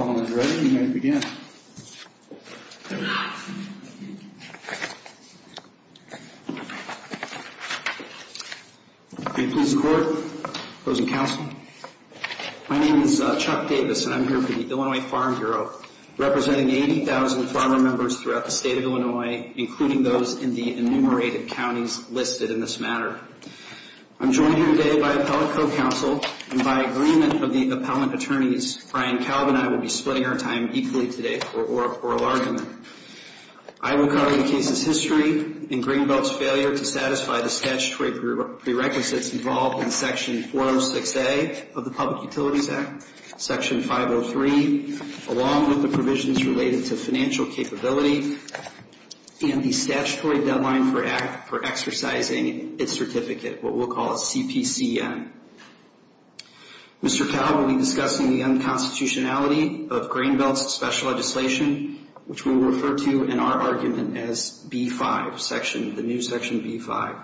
Appellant is ready, you may begin. May it please the court, opposing counsel. My name is Chuck Davis and I'm here for the Illinois Farm Bureau, representing 80,000 farmer members throughout the state of Illinois, including those in the enumerated counties listed in this matter. I'm joined here today by appellate co-counsel, and by agreement of the appellant attorneys, Brian Kalb and I will be splitting our time equally today for oral argument. I will cover the case's history and Greenbelt's failure to satisfy the statutory prerequisites involved in Section 406A of the Public Utilities Act, Section 503, along with the provisions related to financial capability and the statutory deadline for exercising its certificate, what we'll call CPCM. Mr. Kalb will be discussing the unconstitutionality of Greenbelt's special legislation, which we'll refer to in our argument as B-5, the new Section B-5.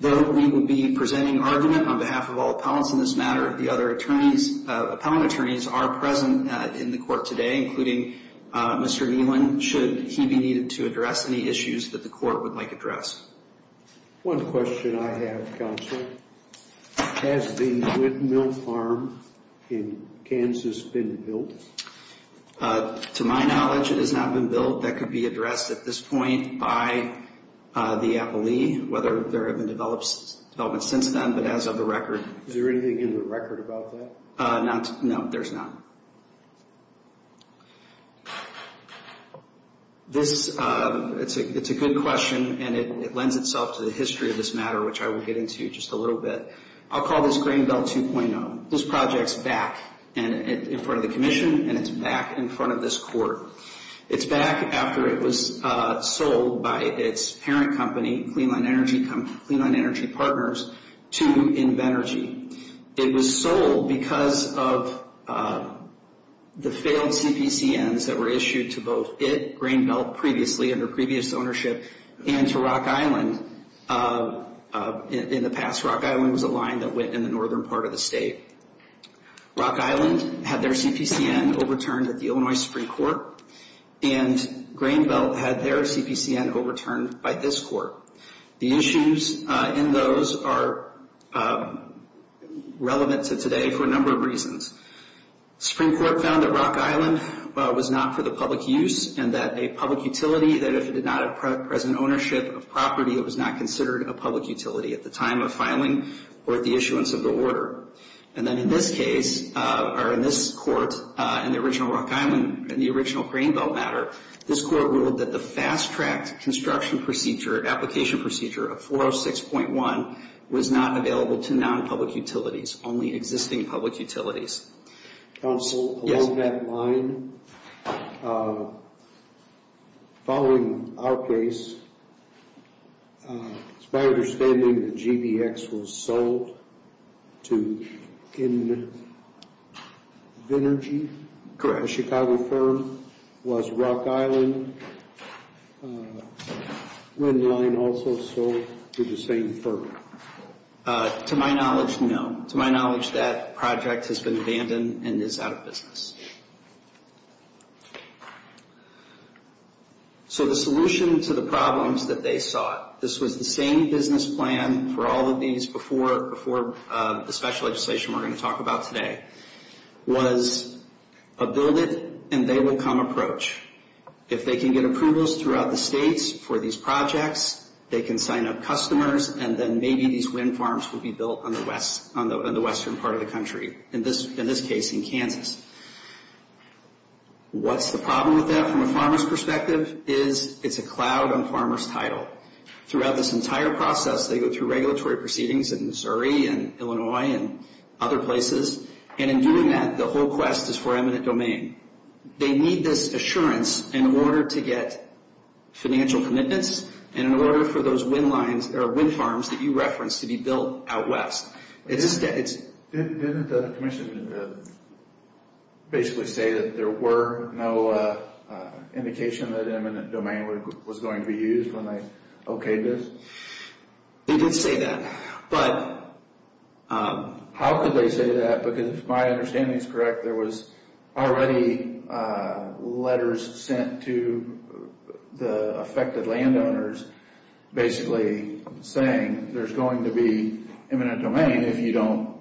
Though we will be presenting argument on behalf of all appellants in this matter, the other appellant attorneys are present in the court today, including Mr. Nealon. Should he be needed to address any issues that the court would like addressed? One question I have, counsel. Has the Whit Mill Farm in Kansas been built? To my knowledge, it has not been built. That could be addressed at this point by the appellee, whether there have been developments since then, but as of the record. Is there anything in the record about that? No, there's not. It's a good question, and it lends itself to the history of this matter, which I will get into just a little bit. I'll call this Greenbelt 2.0. This project's back in front of the commission, and it's back in front of this court. It's back after it was sold by its parent company, Clean Line Energy Partners, to Invenergy. It was sold because of the failed CPCNs that were issued to both it, Greenbelt, previously under previous ownership, and to Rock Island. In the past, Rock Island was a line that went in the northern part of the state. Rock Island had their CPCN overturned at the Illinois Supreme Court, and Greenbelt had their CPCN overturned by this court. The issues in those are relevant to today for a number of reasons. The Supreme Court found that Rock Island was not for the public use, and that a public utility, that if it did not have present ownership of property, it was not considered a public utility at the time of filing or at the issuance of the order. And then in this case, or in this court, in the original Rock Island, in the original Greenbelt matter, this court ruled that the fast-tracked construction procedure, application procedure of 406.1, was not available to non-public utilities, only existing public utilities. Counsel, along that line, following our case, it's my understanding that GBX was sold to Invenergy, a Chicago firm, was Rock Island, Windline also sold to the same firm. To my knowledge, no. To my knowledge, that project has been abandoned and is out of business. So the solution to the problems that they sought, this was the same business plan for all of these before the special legislation we're going to talk about today, was a build-it-and-they-will-come approach. If they can get approvals throughout the states for these projects, they can sign up customers, and then maybe these wind farms will be built on the western part of the country, in this case, in Kansas. What's the problem with that from a farmer's perspective? It's a cloud on farmer's title. Throughout this entire process, they go through regulatory proceedings in Missouri and Illinois and other places, and in doing that, the whole quest is for eminent domain. They need this assurance in order to get financial commitments and in order for those wind farms that you referenced to be built out west. Didn't the commission basically say that there were no indication that eminent domain was going to be used when they okayed this? They did say that, but... How could they say that, because if my understanding is correct, there was already letters sent to the affected landowners basically saying there's going to be eminent domain if you don't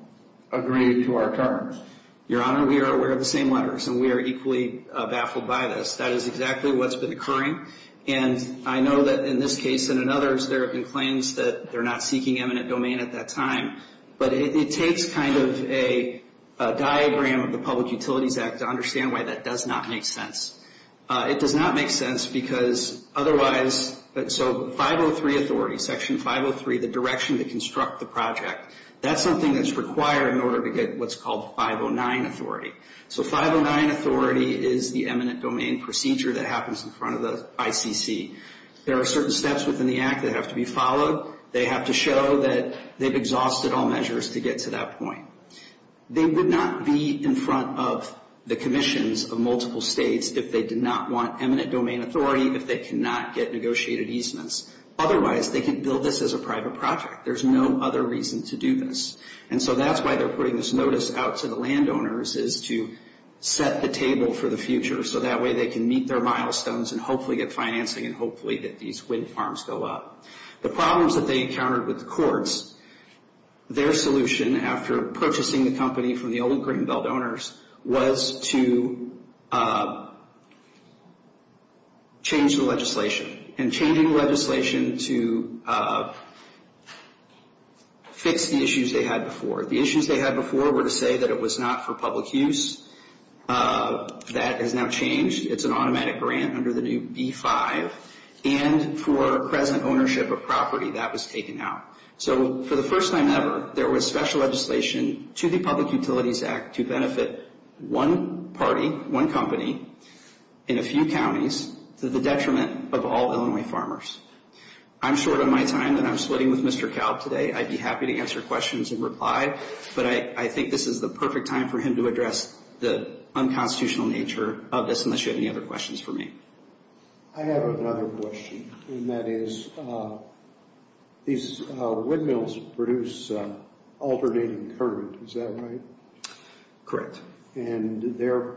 agree to our terms. Your Honor, we are aware of the same letters, and we are equally baffled by this. That is exactly what's been occurring, and I know that in this case and in others, there have been claims that they're not seeking eminent domain at that time, but it takes kind of a diagram of the Public Utilities Act to understand why that does not make sense. It does not make sense because otherwise... So 503 authority, Section 503, the direction to construct the project, that's something that's required in order to get what's called 509 authority. So 509 authority is the eminent domain procedure that happens in front of the ICC. There are certain steps within the Act that have to be followed. They have to show that they've exhausted all measures to get to that point. They would not be in front of the commissions of multiple states if they did not want eminent domain authority, if they cannot get negotiated easements. Otherwise, they can build this as a private project. There's no other reason to do this, and so that's why they're putting this notice out to the landowners is to set the table for the future so that way they can meet their milestones and hopefully get financing and hopefully get these wind farms go up. The problems that they encountered with the courts, their solution after purchasing the company from the old Greenbelt owners was to change the legislation, and changing the legislation to fix the issues they had before. The issues they had before were to say that it was not for public use. That has now changed. It's an automatic grant under the new B-5, and for present ownership of property, that was taken out. So for the first time ever, there was special legislation to the Public Utilities Act to benefit one party, one company, in a few counties to the detriment of all Illinois farmers. I'm short on my time, and I'm splitting with Mr. Kalb today. I'd be happy to answer questions and reply, but I think this is the perfect time for him to address the unconstitutional nature of this unless you have any other questions for me. I have another question, and that is these windmills produce alternating current. Is that right? Correct. And their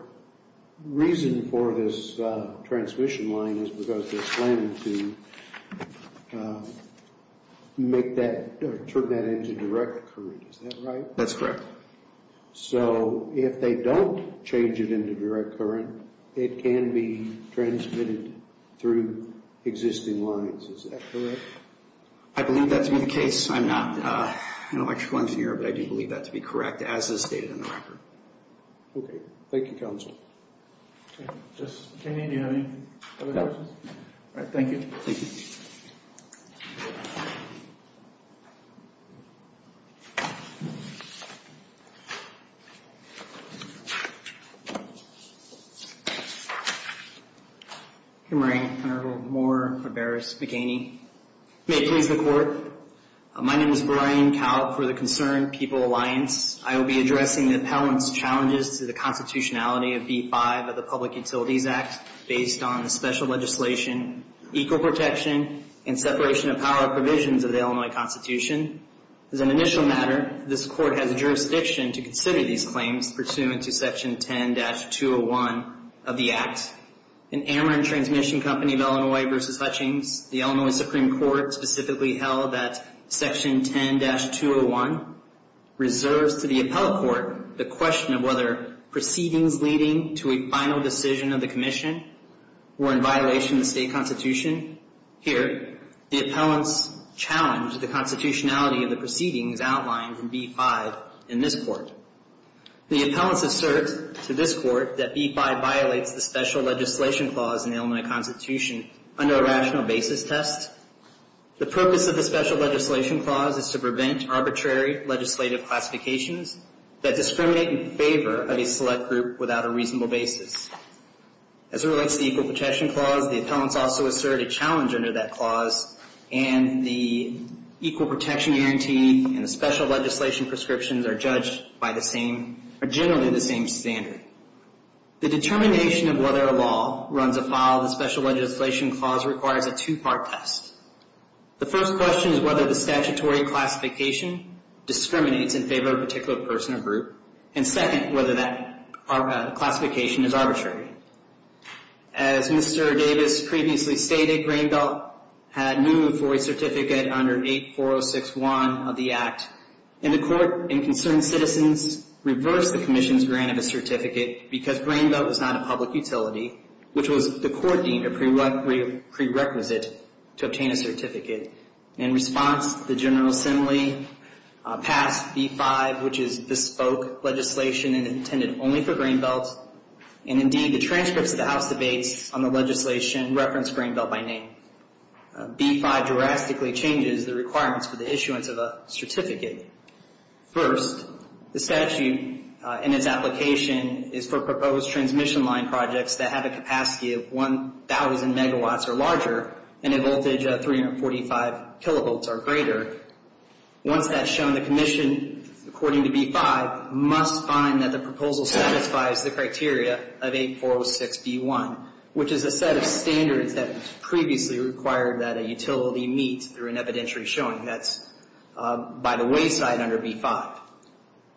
reason for this transmission line is because they're slim to make that or turn that into direct current. Is that right? That's correct. So if they don't change it into direct current, it can be transmitted through existing lines. Is that correct? I believe that to be the case. I'm not an electrical engineer, but I do believe that to be correct, as is stated in the record. Okay. Thank you, counsel. Justice McHaney, do you have any other questions? No. All right. Thank you. Thank you. Thank you. Hey, Maureen. My name is Brian Cowell for the Concerned People Alliance. I will be addressing the appellant's challenges to the constitutionality of B-5 of the Public Utilities Act based on the special legislation, equal protection, and separation of power provisions of the Illinois Constitution. As an initial matter, this court has jurisdiction to consider these claims pursuant to Section 10-201 of the Act. In Ameren Transmission Company of Illinois v. Hutchings, the Illinois Supreme Court specifically held that Section 10-201 reserves to the appellate court the question of whether proceedings leading to a final decision of the commission were in violation of the state constitution. Here, the appellants challenge the constitutionality of the proceedings outlined in B-5 in this court. The appellants assert to this court that B-5 violates the special legislation clause in the Illinois Constitution under a rational basis test. The purpose of the special legislation clause is to prevent arbitrary legislative classifications that discriminate in favor of a select group without a reasonable basis. As it relates to the equal protection clause, the appellants also assert a challenge under that clause and the equal protection guarantee and the special legislation prescriptions are judged by the same, or generally the same standard. The determination of whether a law runs afoul of the special legislation clause requires a two-part test. The first question is whether the statutory classification discriminates in favor of a particular person or group, and second, whether that classification is arbitrary. As Mr. Davis previously stated, Grain Belt had moved for a certificate under 8406-1 of the Act, and the court and concerned citizens reversed the commission's grant of a certificate because Grain Belt was not a public utility, which was the court deemed a prerequisite to obtain a certificate. In response, the General Assembly passed B-5, which is bespoke legislation intended only for Grain Belt, and indeed the transcripts of the House debates on the legislation reference Grain Belt by name. B-5 drastically changes the requirements for the issuance of a certificate. First, the statute in its application is for proposed transmission line projects that have a capacity of 1,000 megawatts or larger and a voltage of 345 kilovolts or greater. Once that's shown, the commission, according to B-5, must find that the proposal satisfies the criteria of 8406-B-1, which is a set of standards that previously required that a utility meet through an evidentiary showing. That's by the wayside under B-5.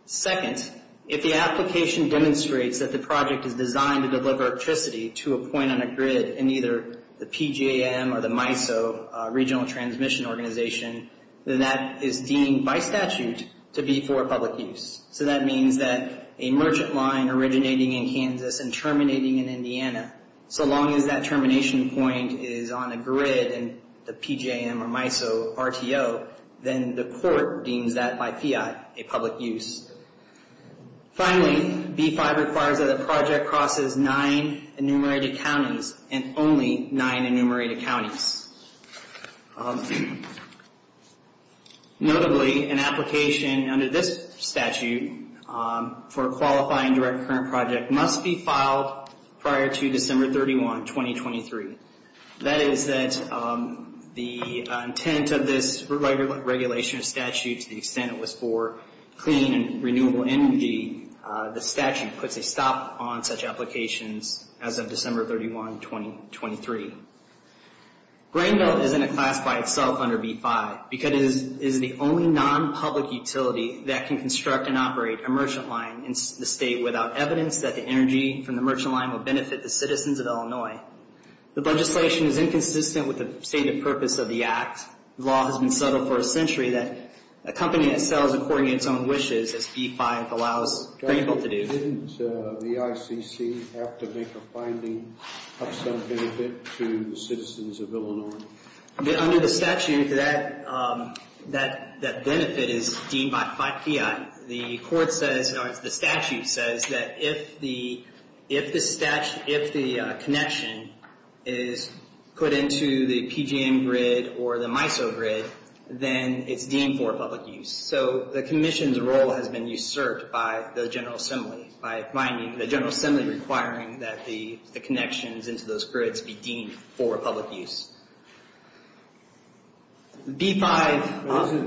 Second, if the application demonstrates that the project is designed to deliver electricity to a point on a grid in either the PJM or the MISO, Regional Transmission Organization, then that is deemed by statute to be for public use. So that means that a merchant line originating in Kansas and terminating in Indiana, so long as that termination point is on a grid in the PJM or MISO RTO, then the court deems that by PI a public use. Finally, B-5 requires that a project crosses nine enumerated counties and only nine enumerated counties. Notably, an application under this statute for a qualifying direct current project must be filed prior to December 31, 2023. That is that the intent of this regulation statute, to the extent it was for clean and renewable energy, the statute puts a stop on such applications as of December 31, 2023. Grain Belt is in a class by itself under B-5 because it is the only non-public utility that can construct and operate a merchant line in the state without evidence that the energy from the merchant line will benefit the citizens of Illinois. The legislation is inconsistent with the stated purpose of the act. The law has been settled for a century that a company that sells according to its own wishes, as B-5 allows grain belt to do. Didn't the ICC have to make a finding of some benefit to the citizens of Illinois? Under the statute, that benefit is deemed by PI. The statute says that if the connection is put into the PGM grid or the MISO grid, then it's deemed for public use. So the commission's role has been usurped by the General Assembly, by finding the General Assembly requiring that the connections into those grids be deemed for public use. Isn't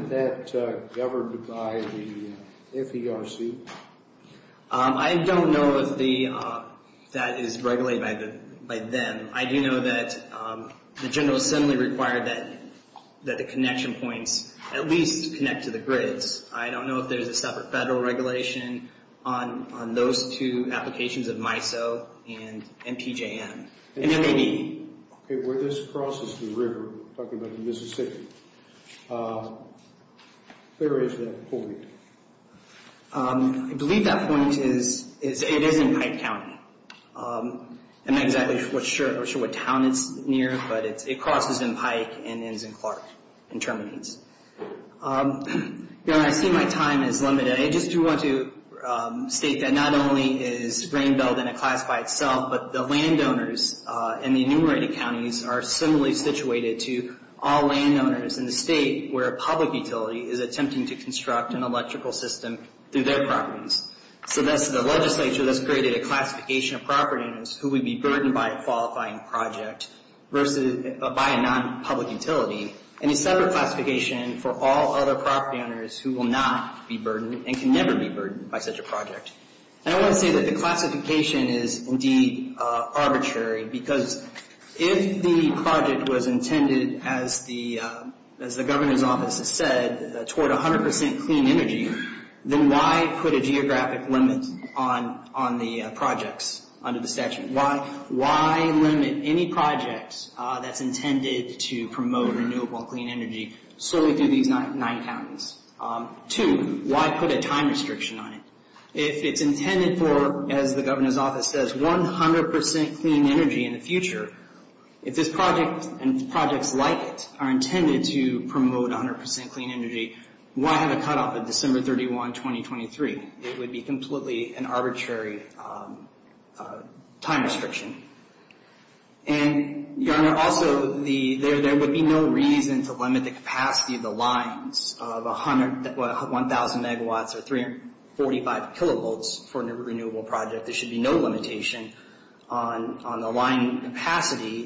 that governed by the FERC? I don't know if that is regulated by them. I do know that the General Assembly required that the connection points at least connect to the grids. I don't know if there's a separate federal regulation on those two applications of MISO and PJM. Okay, where this crosses the river, talking about the Mississippi, where is that point? I believe that point is it is in Pike County. I'm not exactly sure what town it's near, but it crosses in Pike and ends in Clark and terminates. I see my time is limited. I just do want to state that not only is grain belt in a class by itself, but the landowners in the enumerated counties are similarly situated to all landowners in the state where a public utility is attempting to construct an electrical system through their properties. So that's the legislature that's created a classification of property owners who would be burdened by a qualifying project by a non-public utility, and a separate classification for all other property owners who will not be burdened and can never be burdened by such a project. I want to say that the classification is, indeed, arbitrary, because if the project was intended, as the governor's office has said, toward 100% clean energy, then why put a geographic limit on the projects under the statute? Why limit any project that's intended to promote renewable clean energy solely through these nine counties? Two, why put a time restriction on it? If it's intended for, as the governor's office says, 100% clean energy in the future, if this project and projects like it are intended to promote 100% clean energy, why have a cutoff of December 31, 2023? It would be completely an arbitrary time restriction. And, Your Honor, also, there would be no reason to limit the capacity of the lines of 1,000 megawatts or 345 kilovolts for a renewable project. There should be no limitation on the line capacity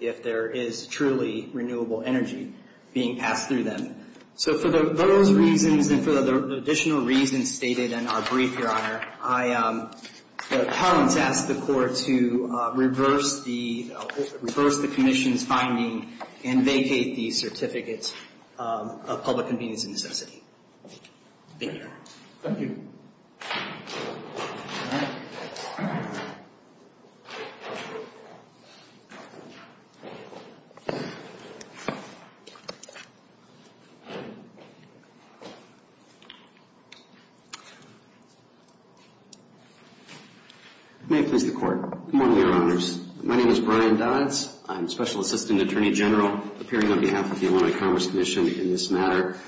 if there is truly renewable energy being passed through them. So for those reasons and for the additional reasons stated in our brief, Your Honor, I ask the court to reverse the commission's finding and vacate the certificate of public convenience and necessity. Thank you, Your Honor. Thank you. May it please the court. Good morning, Your Honors. My name is Brian Dodds. I'm Special Assistant Attorney General, appearing on behalf of the Illinois Commerce Commission in this matter.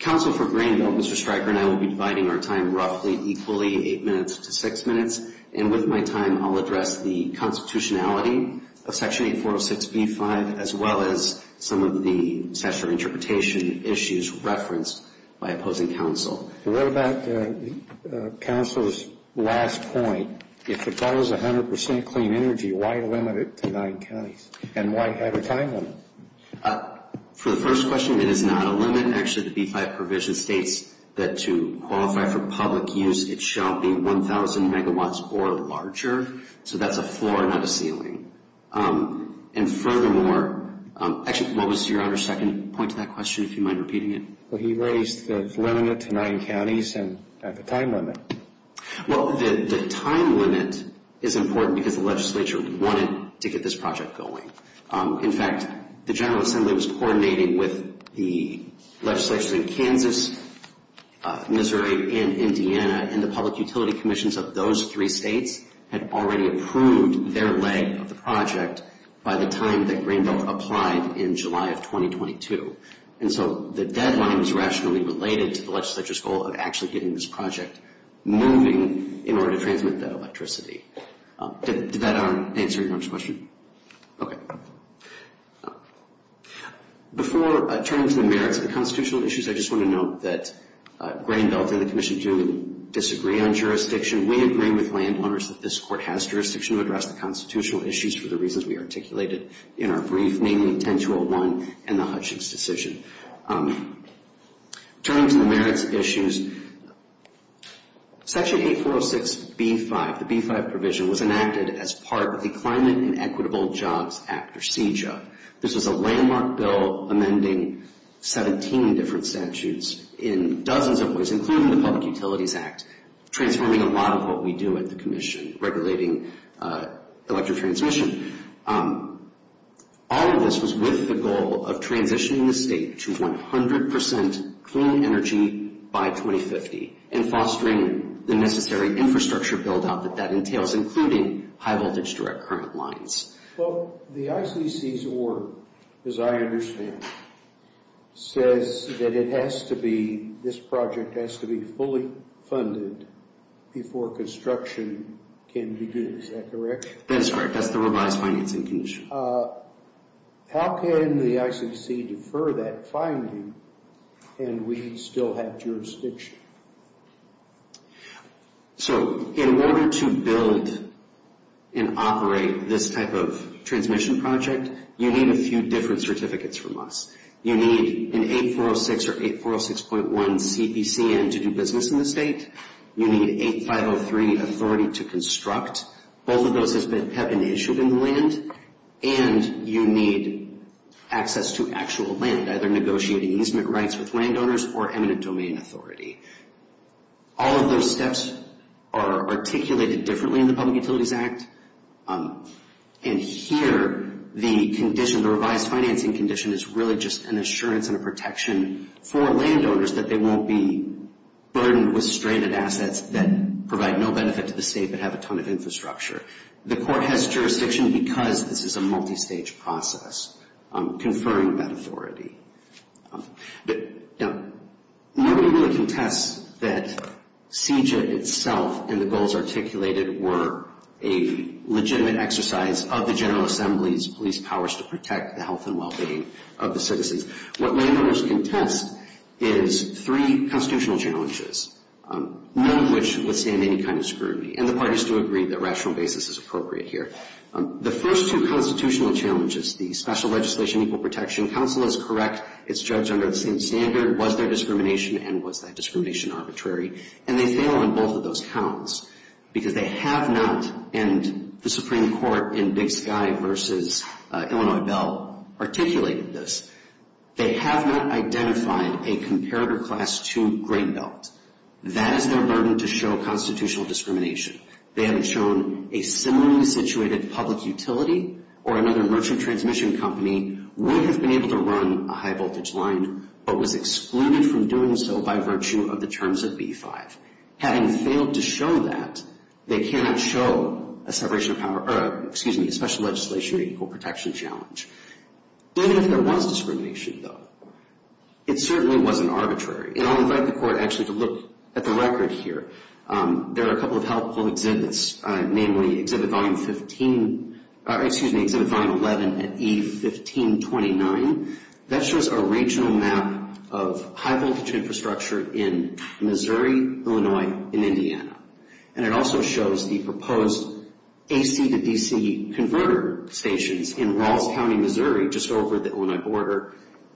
Counsel for Greenville, Mr. Stryker, and I will be dividing our time roughly equally, eight minutes to six minutes. And with my time, I'll address the constitutionality of Section 8406b-5 as well as some of the statutory interpretation issues referenced by opposing counsel. I read about counsel's last point. If it follows 100% clean energy, why limit it to nine counties? And why have a time limit? For the first question, it is not a limit. Actually, the B-5 provision states that to qualify for public use, it shall be 1,000 megawatts or larger. So that's a floor, not a ceiling. And furthermore, actually, what was Your Honor's second point to that question, if you mind repeating it? Well, he raised the limit to nine counties and the time limit. Well, the time limit is important because the legislature wanted to get this project going. In fact, the General Assembly was coordinating with the legislature in Kansas, Missouri, and Indiana, and the public utility commissions of those three states had already approved their leg of the project by the time that Greenville applied in July of 2022. And so the deadline was rationally related to the legislature's goal of actually getting this project moving in order to transmit that electricity. Did that answer Your Honor's question? Okay. Before turning to the merits of the constitutional issues, I just want to note that Greenville and the commission do disagree on jurisdiction. We agree with landowners that this Court has jurisdiction to address the constitutional issues for the reasons we articulated in our brief, namely 10-201 and the Hutchings decision. Turning to the merits issues, Section 8406B-5, the B-5 provision, was enacted as part of the Climate and Equitable Jobs Act, or CJO. This was a landmark bill amending 17 different statutes in dozens of ways, including the Public Utilities Act, transforming a lot of what we do at the commission, regulating electric transmission. All of this was with the goal of transitioning the state to 100% clean energy by 2050 and fostering the necessary infrastructure build-out that that entails, including high-voltage direct current lines. Well, the ICC's order, as I understand, says that it has to be, this project has to be fully funded before construction can begin. Is that correct? That's correct. That's the revised financing condition. How can the ICC defer that finding and we still have jurisdiction? So, in order to build and operate this type of transmission project, you need a few different certificates from us. You need an 8406 or 8406.1 CPCN to do business in the state. You need 8503 authority to construct. Both of those have been issued in the land. And you need access to actual land, either negotiating easement rights with landowners or eminent domain authority. All of those steps are articulated differently in the Public Utilities Act. And here, the condition, the revised financing condition, is really just an assurance and a protection for landowners that they won't be burdened with stranded assets that provide no benefit to the state but have a ton of infrastructure. The court has jurisdiction because this is a multistage process, conferring that authority. Now, nobody really contests that CJA itself and the goals articulated were a legitimate exercise of the General Assembly's police powers to protect the health and well-being of the citizens. What landowners contest is three constitutional challenges, none of which withstand any kind of scrutiny. And the parties do agree that rational basis is appropriate here. The first two constitutional challenges, the special legislation, equal protection, counsel is correct. It's judged under the same standard. Was there discrimination? And was that discrimination arbitrary? And they fail on both of those counts because they have not, and the Supreme Court in Big Sky versus Illinois Bell articulated this, they have not identified a comparator class to Great Belt. That is their burden to show constitutional discrimination. They haven't shown a similarly situated public utility or another merchant transmission company would have been able to run a high-voltage line but was excluded from doing so by virtue of the terms of B-5. Having failed to show that, they cannot show a separation of power, excuse me, a special legislation or equal protection challenge. Even if there was discrimination, though, it certainly wasn't arbitrary. And I'll invite the court actually to look at the record here. There are a couple of helpful exhibits, namely Exhibit Volume 11 at E1529. That shows a regional map of high-voltage infrastructure in Missouri, Illinois, and Indiana. And it also shows the proposed AC to DC converter stations in Rawls County, Missouri, just over the Illinois border,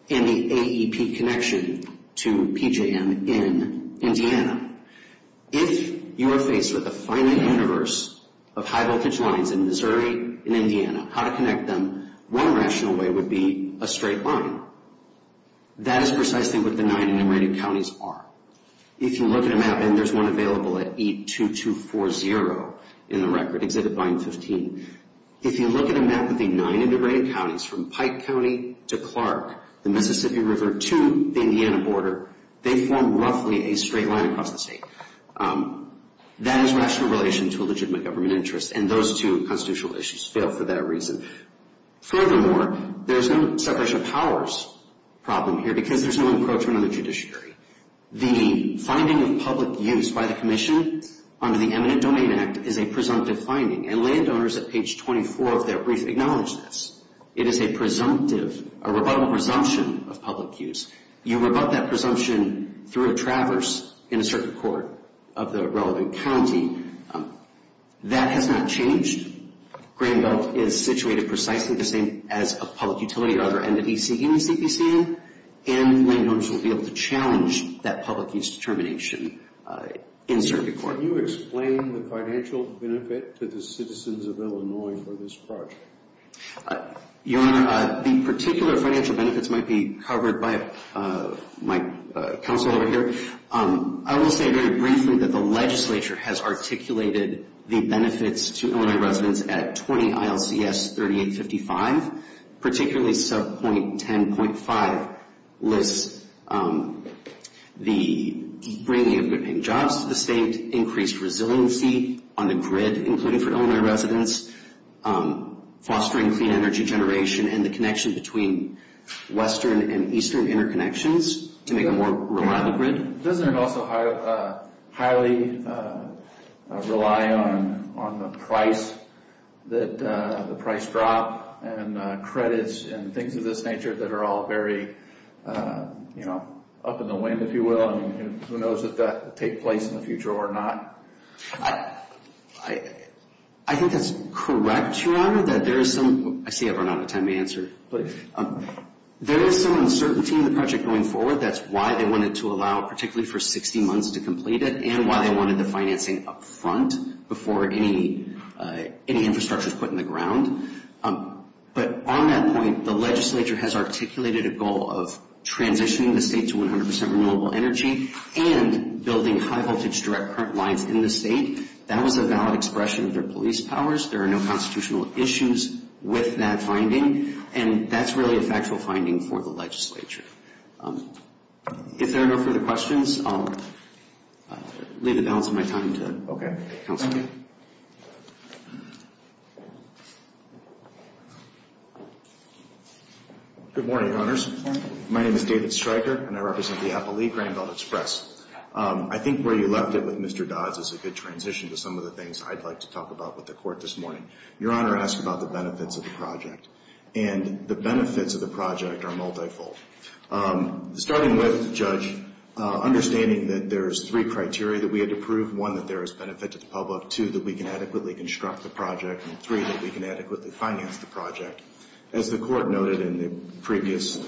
and the AEP connection to PJM in Indiana. If you are faced with a finite universe of high-voltage lines in Missouri and Indiana, how to connect them, one rational way would be a straight line. That is precisely what the nine enumerated counties are. If you look at a map, and there's one available at E2240 in the record, Exhibit Volume 15, if you look at a map of the nine enumerated counties from Pike County to Clark, the Mississippi River, to the Indiana border, they form roughly a straight line across the state. That is rational relation to a legitimate government interest, and those two constitutional issues fail for that reason. Furthermore, there's no separation of powers problem here because there's no encroachment on the judiciary. The finding of public use by the commission under the Eminent Domain Act is a presumptive finding, and landowners at page 24 of their brief acknowledge this. It is a presumptive, a rebuttal presumption of public use. You rebut that presumption through a traverse in a circuit court of the relevant county. That has not changed. Grain Belt is situated precisely the same as a public utility other than the D.C. Union CPC, and landowners will be able to challenge that public use determination in circuit court. Can you explain the financial benefit to the citizens of Illinois for this project? Your Honor, the particular financial benefits might be covered by my counsel over here. I will say very briefly that the legislature has articulated the benefits to Illinois residents at 20 ILCS 3855, particularly subpoint 10.5 lists the bringing of good-paying jobs to the state, increased resiliency on the grid, including for Illinois residents, fostering clean energy generation, and the connection between western and eastern interconnections to make a more reliable grid. Doesn't it also highly rely on the price drop and credits and things of this nature that are all very up in the wind, if you will? Who knows if that will take place in the future or not? I think that's correct, Your Honor. I see I've run out of time to answer. There is some uncertainty in the project going forward. That's why they wanted to allow particularly for 60 months to complete it and why they wanted the financing up front before any infrastructure is put in the ground. But on that point, the legislature has articulated a goal of transitioning the state to 100% renewable energy and building high-voltage direct current lines in the state. That was a valid expression of their police powers. There are no constitutional issues with that finding, and that's really a factual finding for the legislature. If there are no further questions, I'll leave the balance of my time to counsel. Good morning, Honors. Good morning. My name is David Stryker, and I represent the Appalachian Grand Belt Express. I think where you left it with Mr. Dodds is a good transition to some of the things I'd like to talk about with the Court this morning. Your Honor asked about the benefits of the project, and the benefits of the project are multifold. Starting with, Judge, understanding that there's three criteria that we had to prove, one, that there is benefit to the public, two, that we can adequately construct the project, and three, that we can adequately finance the project. As the Court noted and the previous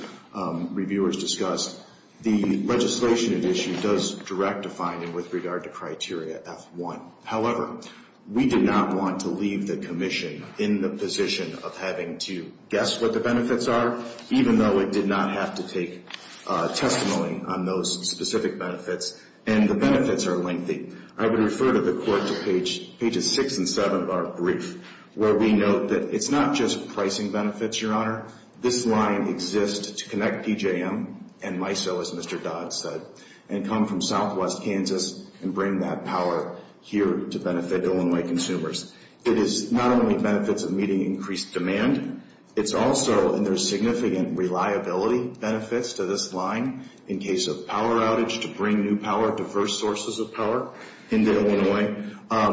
reviewers discussed, the legislation at issue does direct a finding with regard to criteria F1. However, we did not want to leave the commission in the position of having to guess what the benefits are, even though it did not have to take testimony on those specific benefits, and the benefits are lengthy. I would refer to the Court to pages 6 and 7 of our brief, where we note that it's not just pricing benefits, Your Honor. This line exists to connect PJM and MISO, as Mr. Dodds said, and come from southwest Kansas and bring that power here to benefit Illinois consumers. It is not only benefits of meeting increased demand. It's also, and there's significant reliability benefits to this line in case of power outage to bring new power, diverse sources of power into Illinois.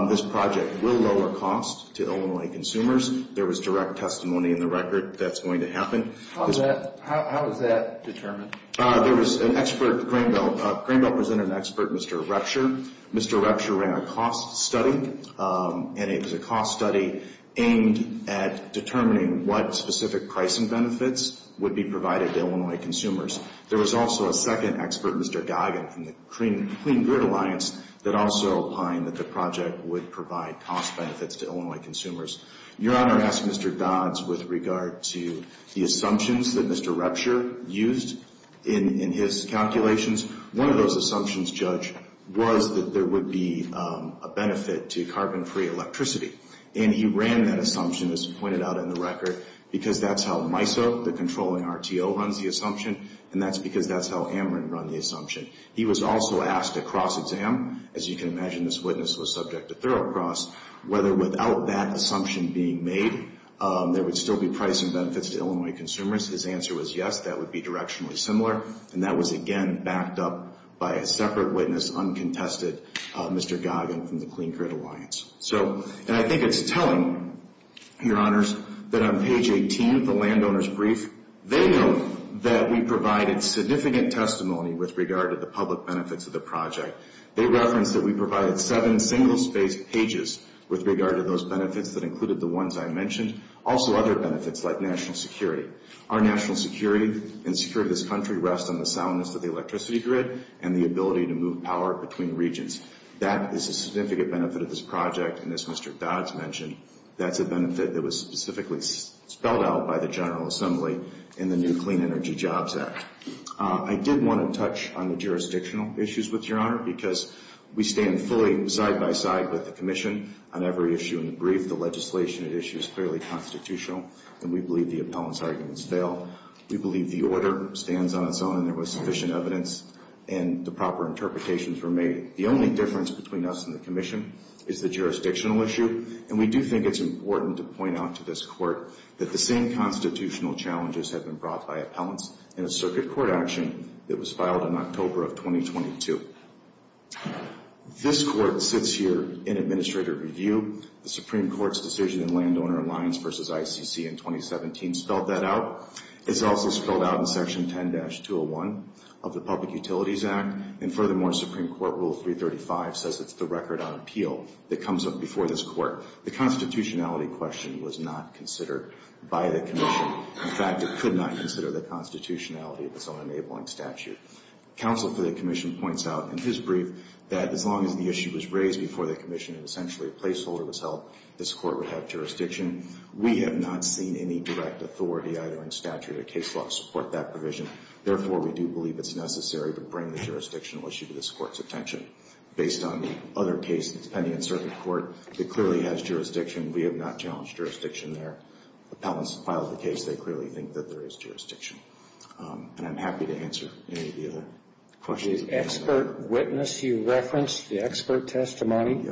This project will lower costs to Illinois consumers. There was direct testimony in the record that's going to happen. How is that determined? There was an expert, Grainbill presented an expert, Mr. Retscher. Mr. Retscher ran a cost study, and it was a cost study aimed at determining what specific pricing benefits would be provided to Illinois consumers. There was also a second expert, Mr. Goggin, from the Clean Grid Alliance, that also opined that the project would provide cost benefits to Illinois consumers. Your Honor, I asked Mr. Dodds with regard to the assumptions that Mr. Retscher used in his calculations. One of those assumptions, Judge, was that there would be a benefit to carbon-free electricity. And he ran that assumption, as he pointed out in the record, because that's how MISO, the controlling RTO, runs the assumption, and that's because that's how Ameren run the assumption. He was also asked to cross-exam. As you can imagine, this witness was subject to thorough cross, whether without that assumption being made, there would still be pricing benefits to Illinois consumers. His answer was yes, that would be directionally similar, and that was again backed up by a separate witness, uncontested, Mr. Goggin from the Clean Grid Alliance. And I think it's telling, Your Honors, that on page 18 of the landowner's brief, they note that we provided significant testimony with regard to the public benefits of the project. They referenced that we provided seven single-spaced pages with regard to those benefits that included the ones I mentioned, also other benefits like national security. Our national security and security of this country rests on the soundness of the electricity grid and the ability to move power between regions. That is a significant benefit of this project, and as Mr. Dodds mentioned, that's a benefit that was specifically spelled out by the General Assembly in the new Clean Energy Jobs Act. I did want to touch on the jurisdictional issues with Your Honor, because we stand fully side-by-side with the Commission on every issue in the brief. The legislation at issue is clearly constitutional, and we believe the appellants' arguments fail. We believe the order stands on its own, and there was sufficient evidence, and the proper interpretations were made. The only difference between us and the Commission is the jurisdictional issue, and we do think it's important to point out to this Court that the same constitutional challenges have been brought by appellants in a circuit court action that was filed in October of 2022. This Court sits here in administrative review. The Supreme Court's decision in Landowner Alliance v. ICC in 2017 spelled that out. It's also spelled out in Section 10-201 of the Public Utilities Act, and furthermore, Supreme Court Rule 335 says it's the record on appeal that comes up before this Court. The constitutionality question was not considered by the Commission. In fact, it could not consider the constitutionality of its own enabling statute. Counsel for the Commission points out in his brief that as long as the issue was raised before the Commission and essentially a placeholder was held, this Court would have jurisdiction. We have not seen any direct authority either in statute or case law to support that provision. Therefore, we do believe it's necessary to bring the jurisdictional issue to this Court's attention. Based on the other cases pending in circuit court, it clearly has jurisdiction. We have not challenged jurisdiction there. Appellants filed the case, they clearly think that there is jurisdiction. And I'm happy to answer any of the other questions. The expert witness you referenced, the expert testimony,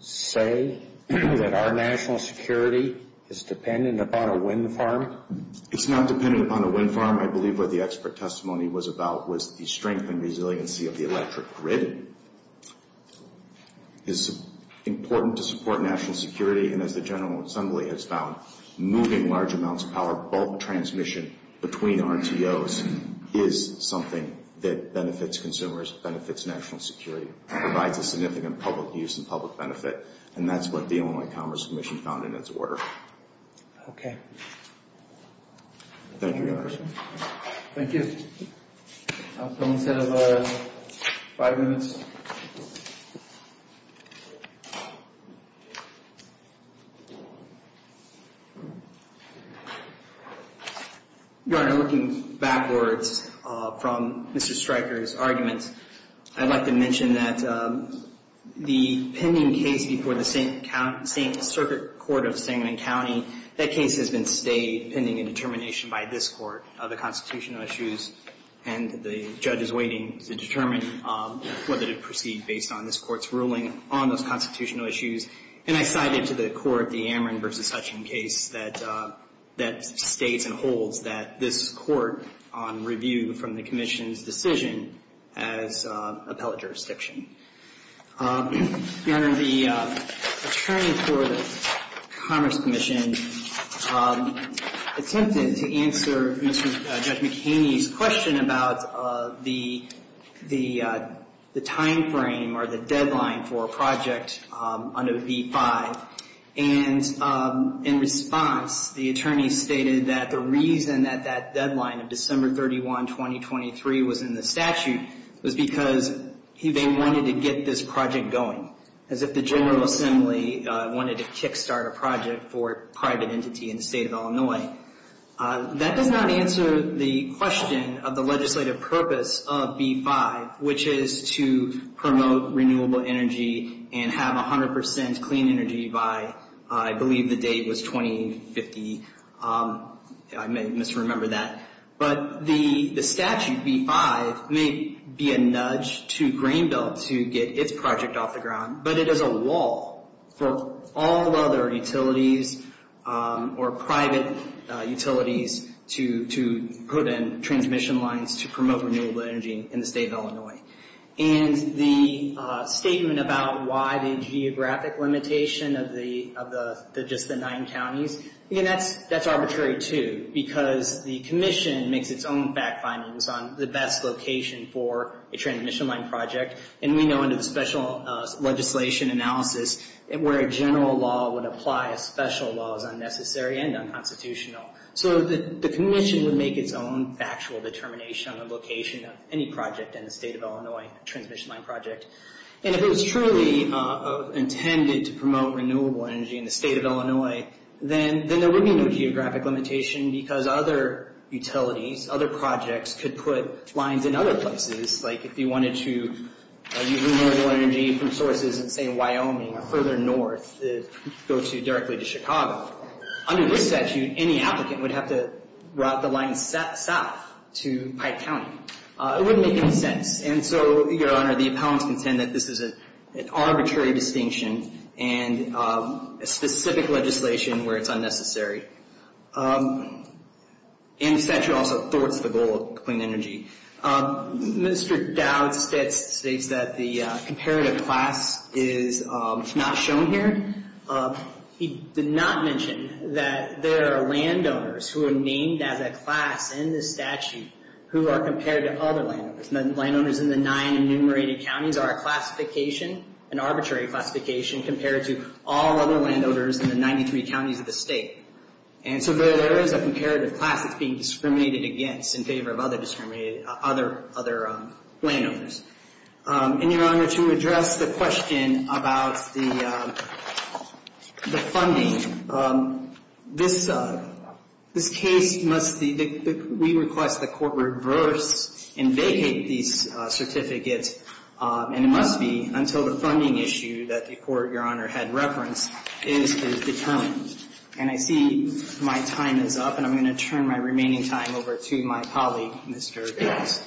say that our national security is dependent upon a wind farm? It's not dependent upon a wind farm. I believe what the expert testimony was about was the strength and resiliency of the electric grid. It's important to support national security, and as the General Assembly has found, moving large amounts of power, bulk transmission between RTOs is something that benefits consumers, benefits national security, and provides a significant public use and public benefit. And that's what the Illinois Commerce Commission found in its order. Okay. Thank you, Your Honor. Thank you. I'll come instead of five minutes. Your Honor, looking backwards from Mr. Stryker's argument, I'd like to mention that the pending case before the St. Circuit Court of Sangamon County, that case has been stayed pending a determination by this Court of the constitutional issues, and the judge is waiting to determine whether to proceed based on this Court's ruling on those constitutional issues. And I cited to the Court the Amron v. Hutchings case that states and holds that this Court, on review from the Commission's decision, has appellate jurisdiction. Your Honor, the attorney for the Commerce Commission attempted to answer Judge McHaney's question about the timeframe or the deadline for a project under v. 5, and in response, the attorney stated that the reason that that deadline of December 31, 2023, was in the statute was because they wanted to get this project going, as if the General Assembly wanted to kick-start a project for a private entity in the state of Illinois. That does not answer the question of the legislative purpose of v. 5, which is to promote renewable energy and have 100% clean energy by, I believe the date was 2050. I may misremember that. But the statute v. 5 may be a nudge to Greenbelt to get its project off the ground, but it is a wall for all other utilities or private utilities to put in transmission lines to promote renewable energy in the state of Illinois. And the statement about why the geographic limitation of just the nine counties, that's arbitrary, too, because the Commission makes its own fact findings on the best location for a transmission line project. And we know under the special legislation analysis, where a general law would apply, a special law is unnecessary and unconstitutional. So the Commission would make its own factual determination on the location of any project in the state of Illinois, a transmission line project. And if it was truly intended to promote renewable energy in the state of Illinois, then there would be no geographic limitation because other utilities, other projects, could put lines in other places. Like if you wanted to use renewable energy from sources in, say, Wyoming or further north, go directly to Chicago, under this statute, any applicant would have to route the line south to Pike County. It wouldn't make any sense. And so, Your Honor, the appellants contend that this is an arbitrary distinction and a specific legislation where it's unnecessary. And the statute also thwarts the goal of clean energy. Mr. Dowd states that the comparative class is not shown here. He did not mention that there are landowners who are named as a class in the statute who are compared to other landowners. Landowners in the nine enumerated counties are a classification, an arbitrary classification, compared to all other landowners in the 93 counties of the state. And so there is a comparative class that's being discriminated against in favor of other landowners. And, Your Honor, to address the question about the funding, this case must be, we request the court reverse and vacate these certificates, and it must be until the funding issue that the court, Your Honor, had referenced is determined. And I see my time is up, and I'm going to turn my remaining time over to my colleague, Mr. Gross.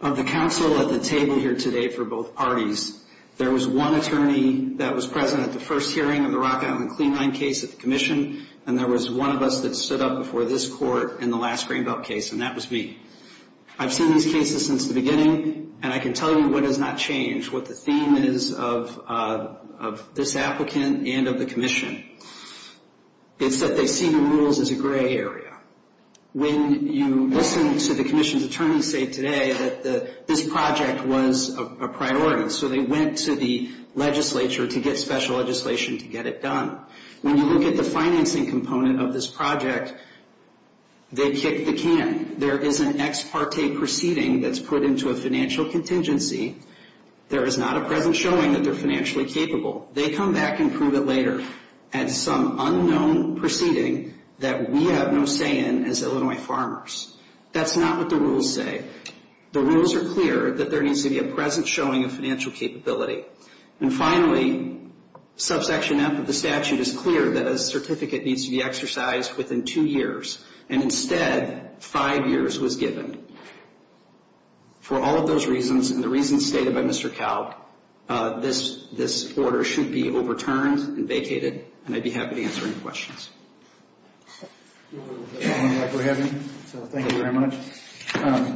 Of the counsel at the table here today for both parties, there was one attorney that was present at the first hearing of the Rock Island Clean Line case at the commission, and there was one of us that stood up before this court in the last Greenbelt case, and that was me. I've seen these cases since the beginning, and I can tell you what has not changed, what the theme is of this applicant and of the commission. It's that they see the rules as a gray area. When you listen to the commission's attorney say today that this project was a priority, so they went to the legislature to get special legislation to get it done. When you look at the financing component of this project, they kicked the can. Again, there is an ex parte proceeding that's put into a financial contingency. There is not a present showing that they're financially capable. They come back and prove it later as some unknown proceeding that we have no say in as Illinois farmers. That's not what the rules say. The rules are clear that there needs to be a present showing of financial capability. And finally, subsection F of the statute is clear that a certificate needs to be exercised within two years, and instead five years was given. For all of those reasons and the reasons stated by Mr. Kalb, this order should be overturned and vacated, and I'd be happy to answer any questions. Thank you very much.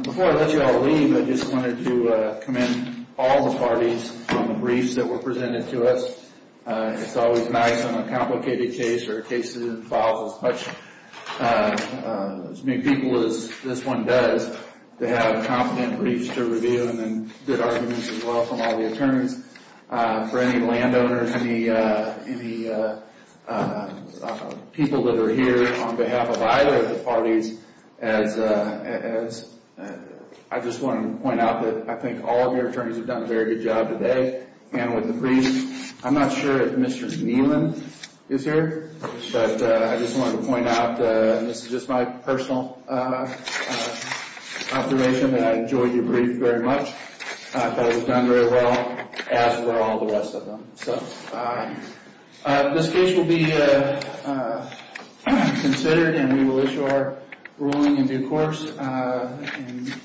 Before I let you all leave, I just wanted to commend all the parties on the briefs that were presented to us. It's always nice on a complicated case or a case that involves as many people as this one does, to have competent briefs to review and good arguments as well from all the attorneys. For any landowners, any people that are here on behalf of either of the parties, I just want to point out that I think all of your attorneys have done a very good job today. And with the briefs, I'm not sure if Mr. Neelan is here, but I just wanted to point out, and this is just my personal observation, that I enjoyed your brief very much. I thought it was done very well, as were all the rest of them. This case will be considered, and we will issue our ruling in due course.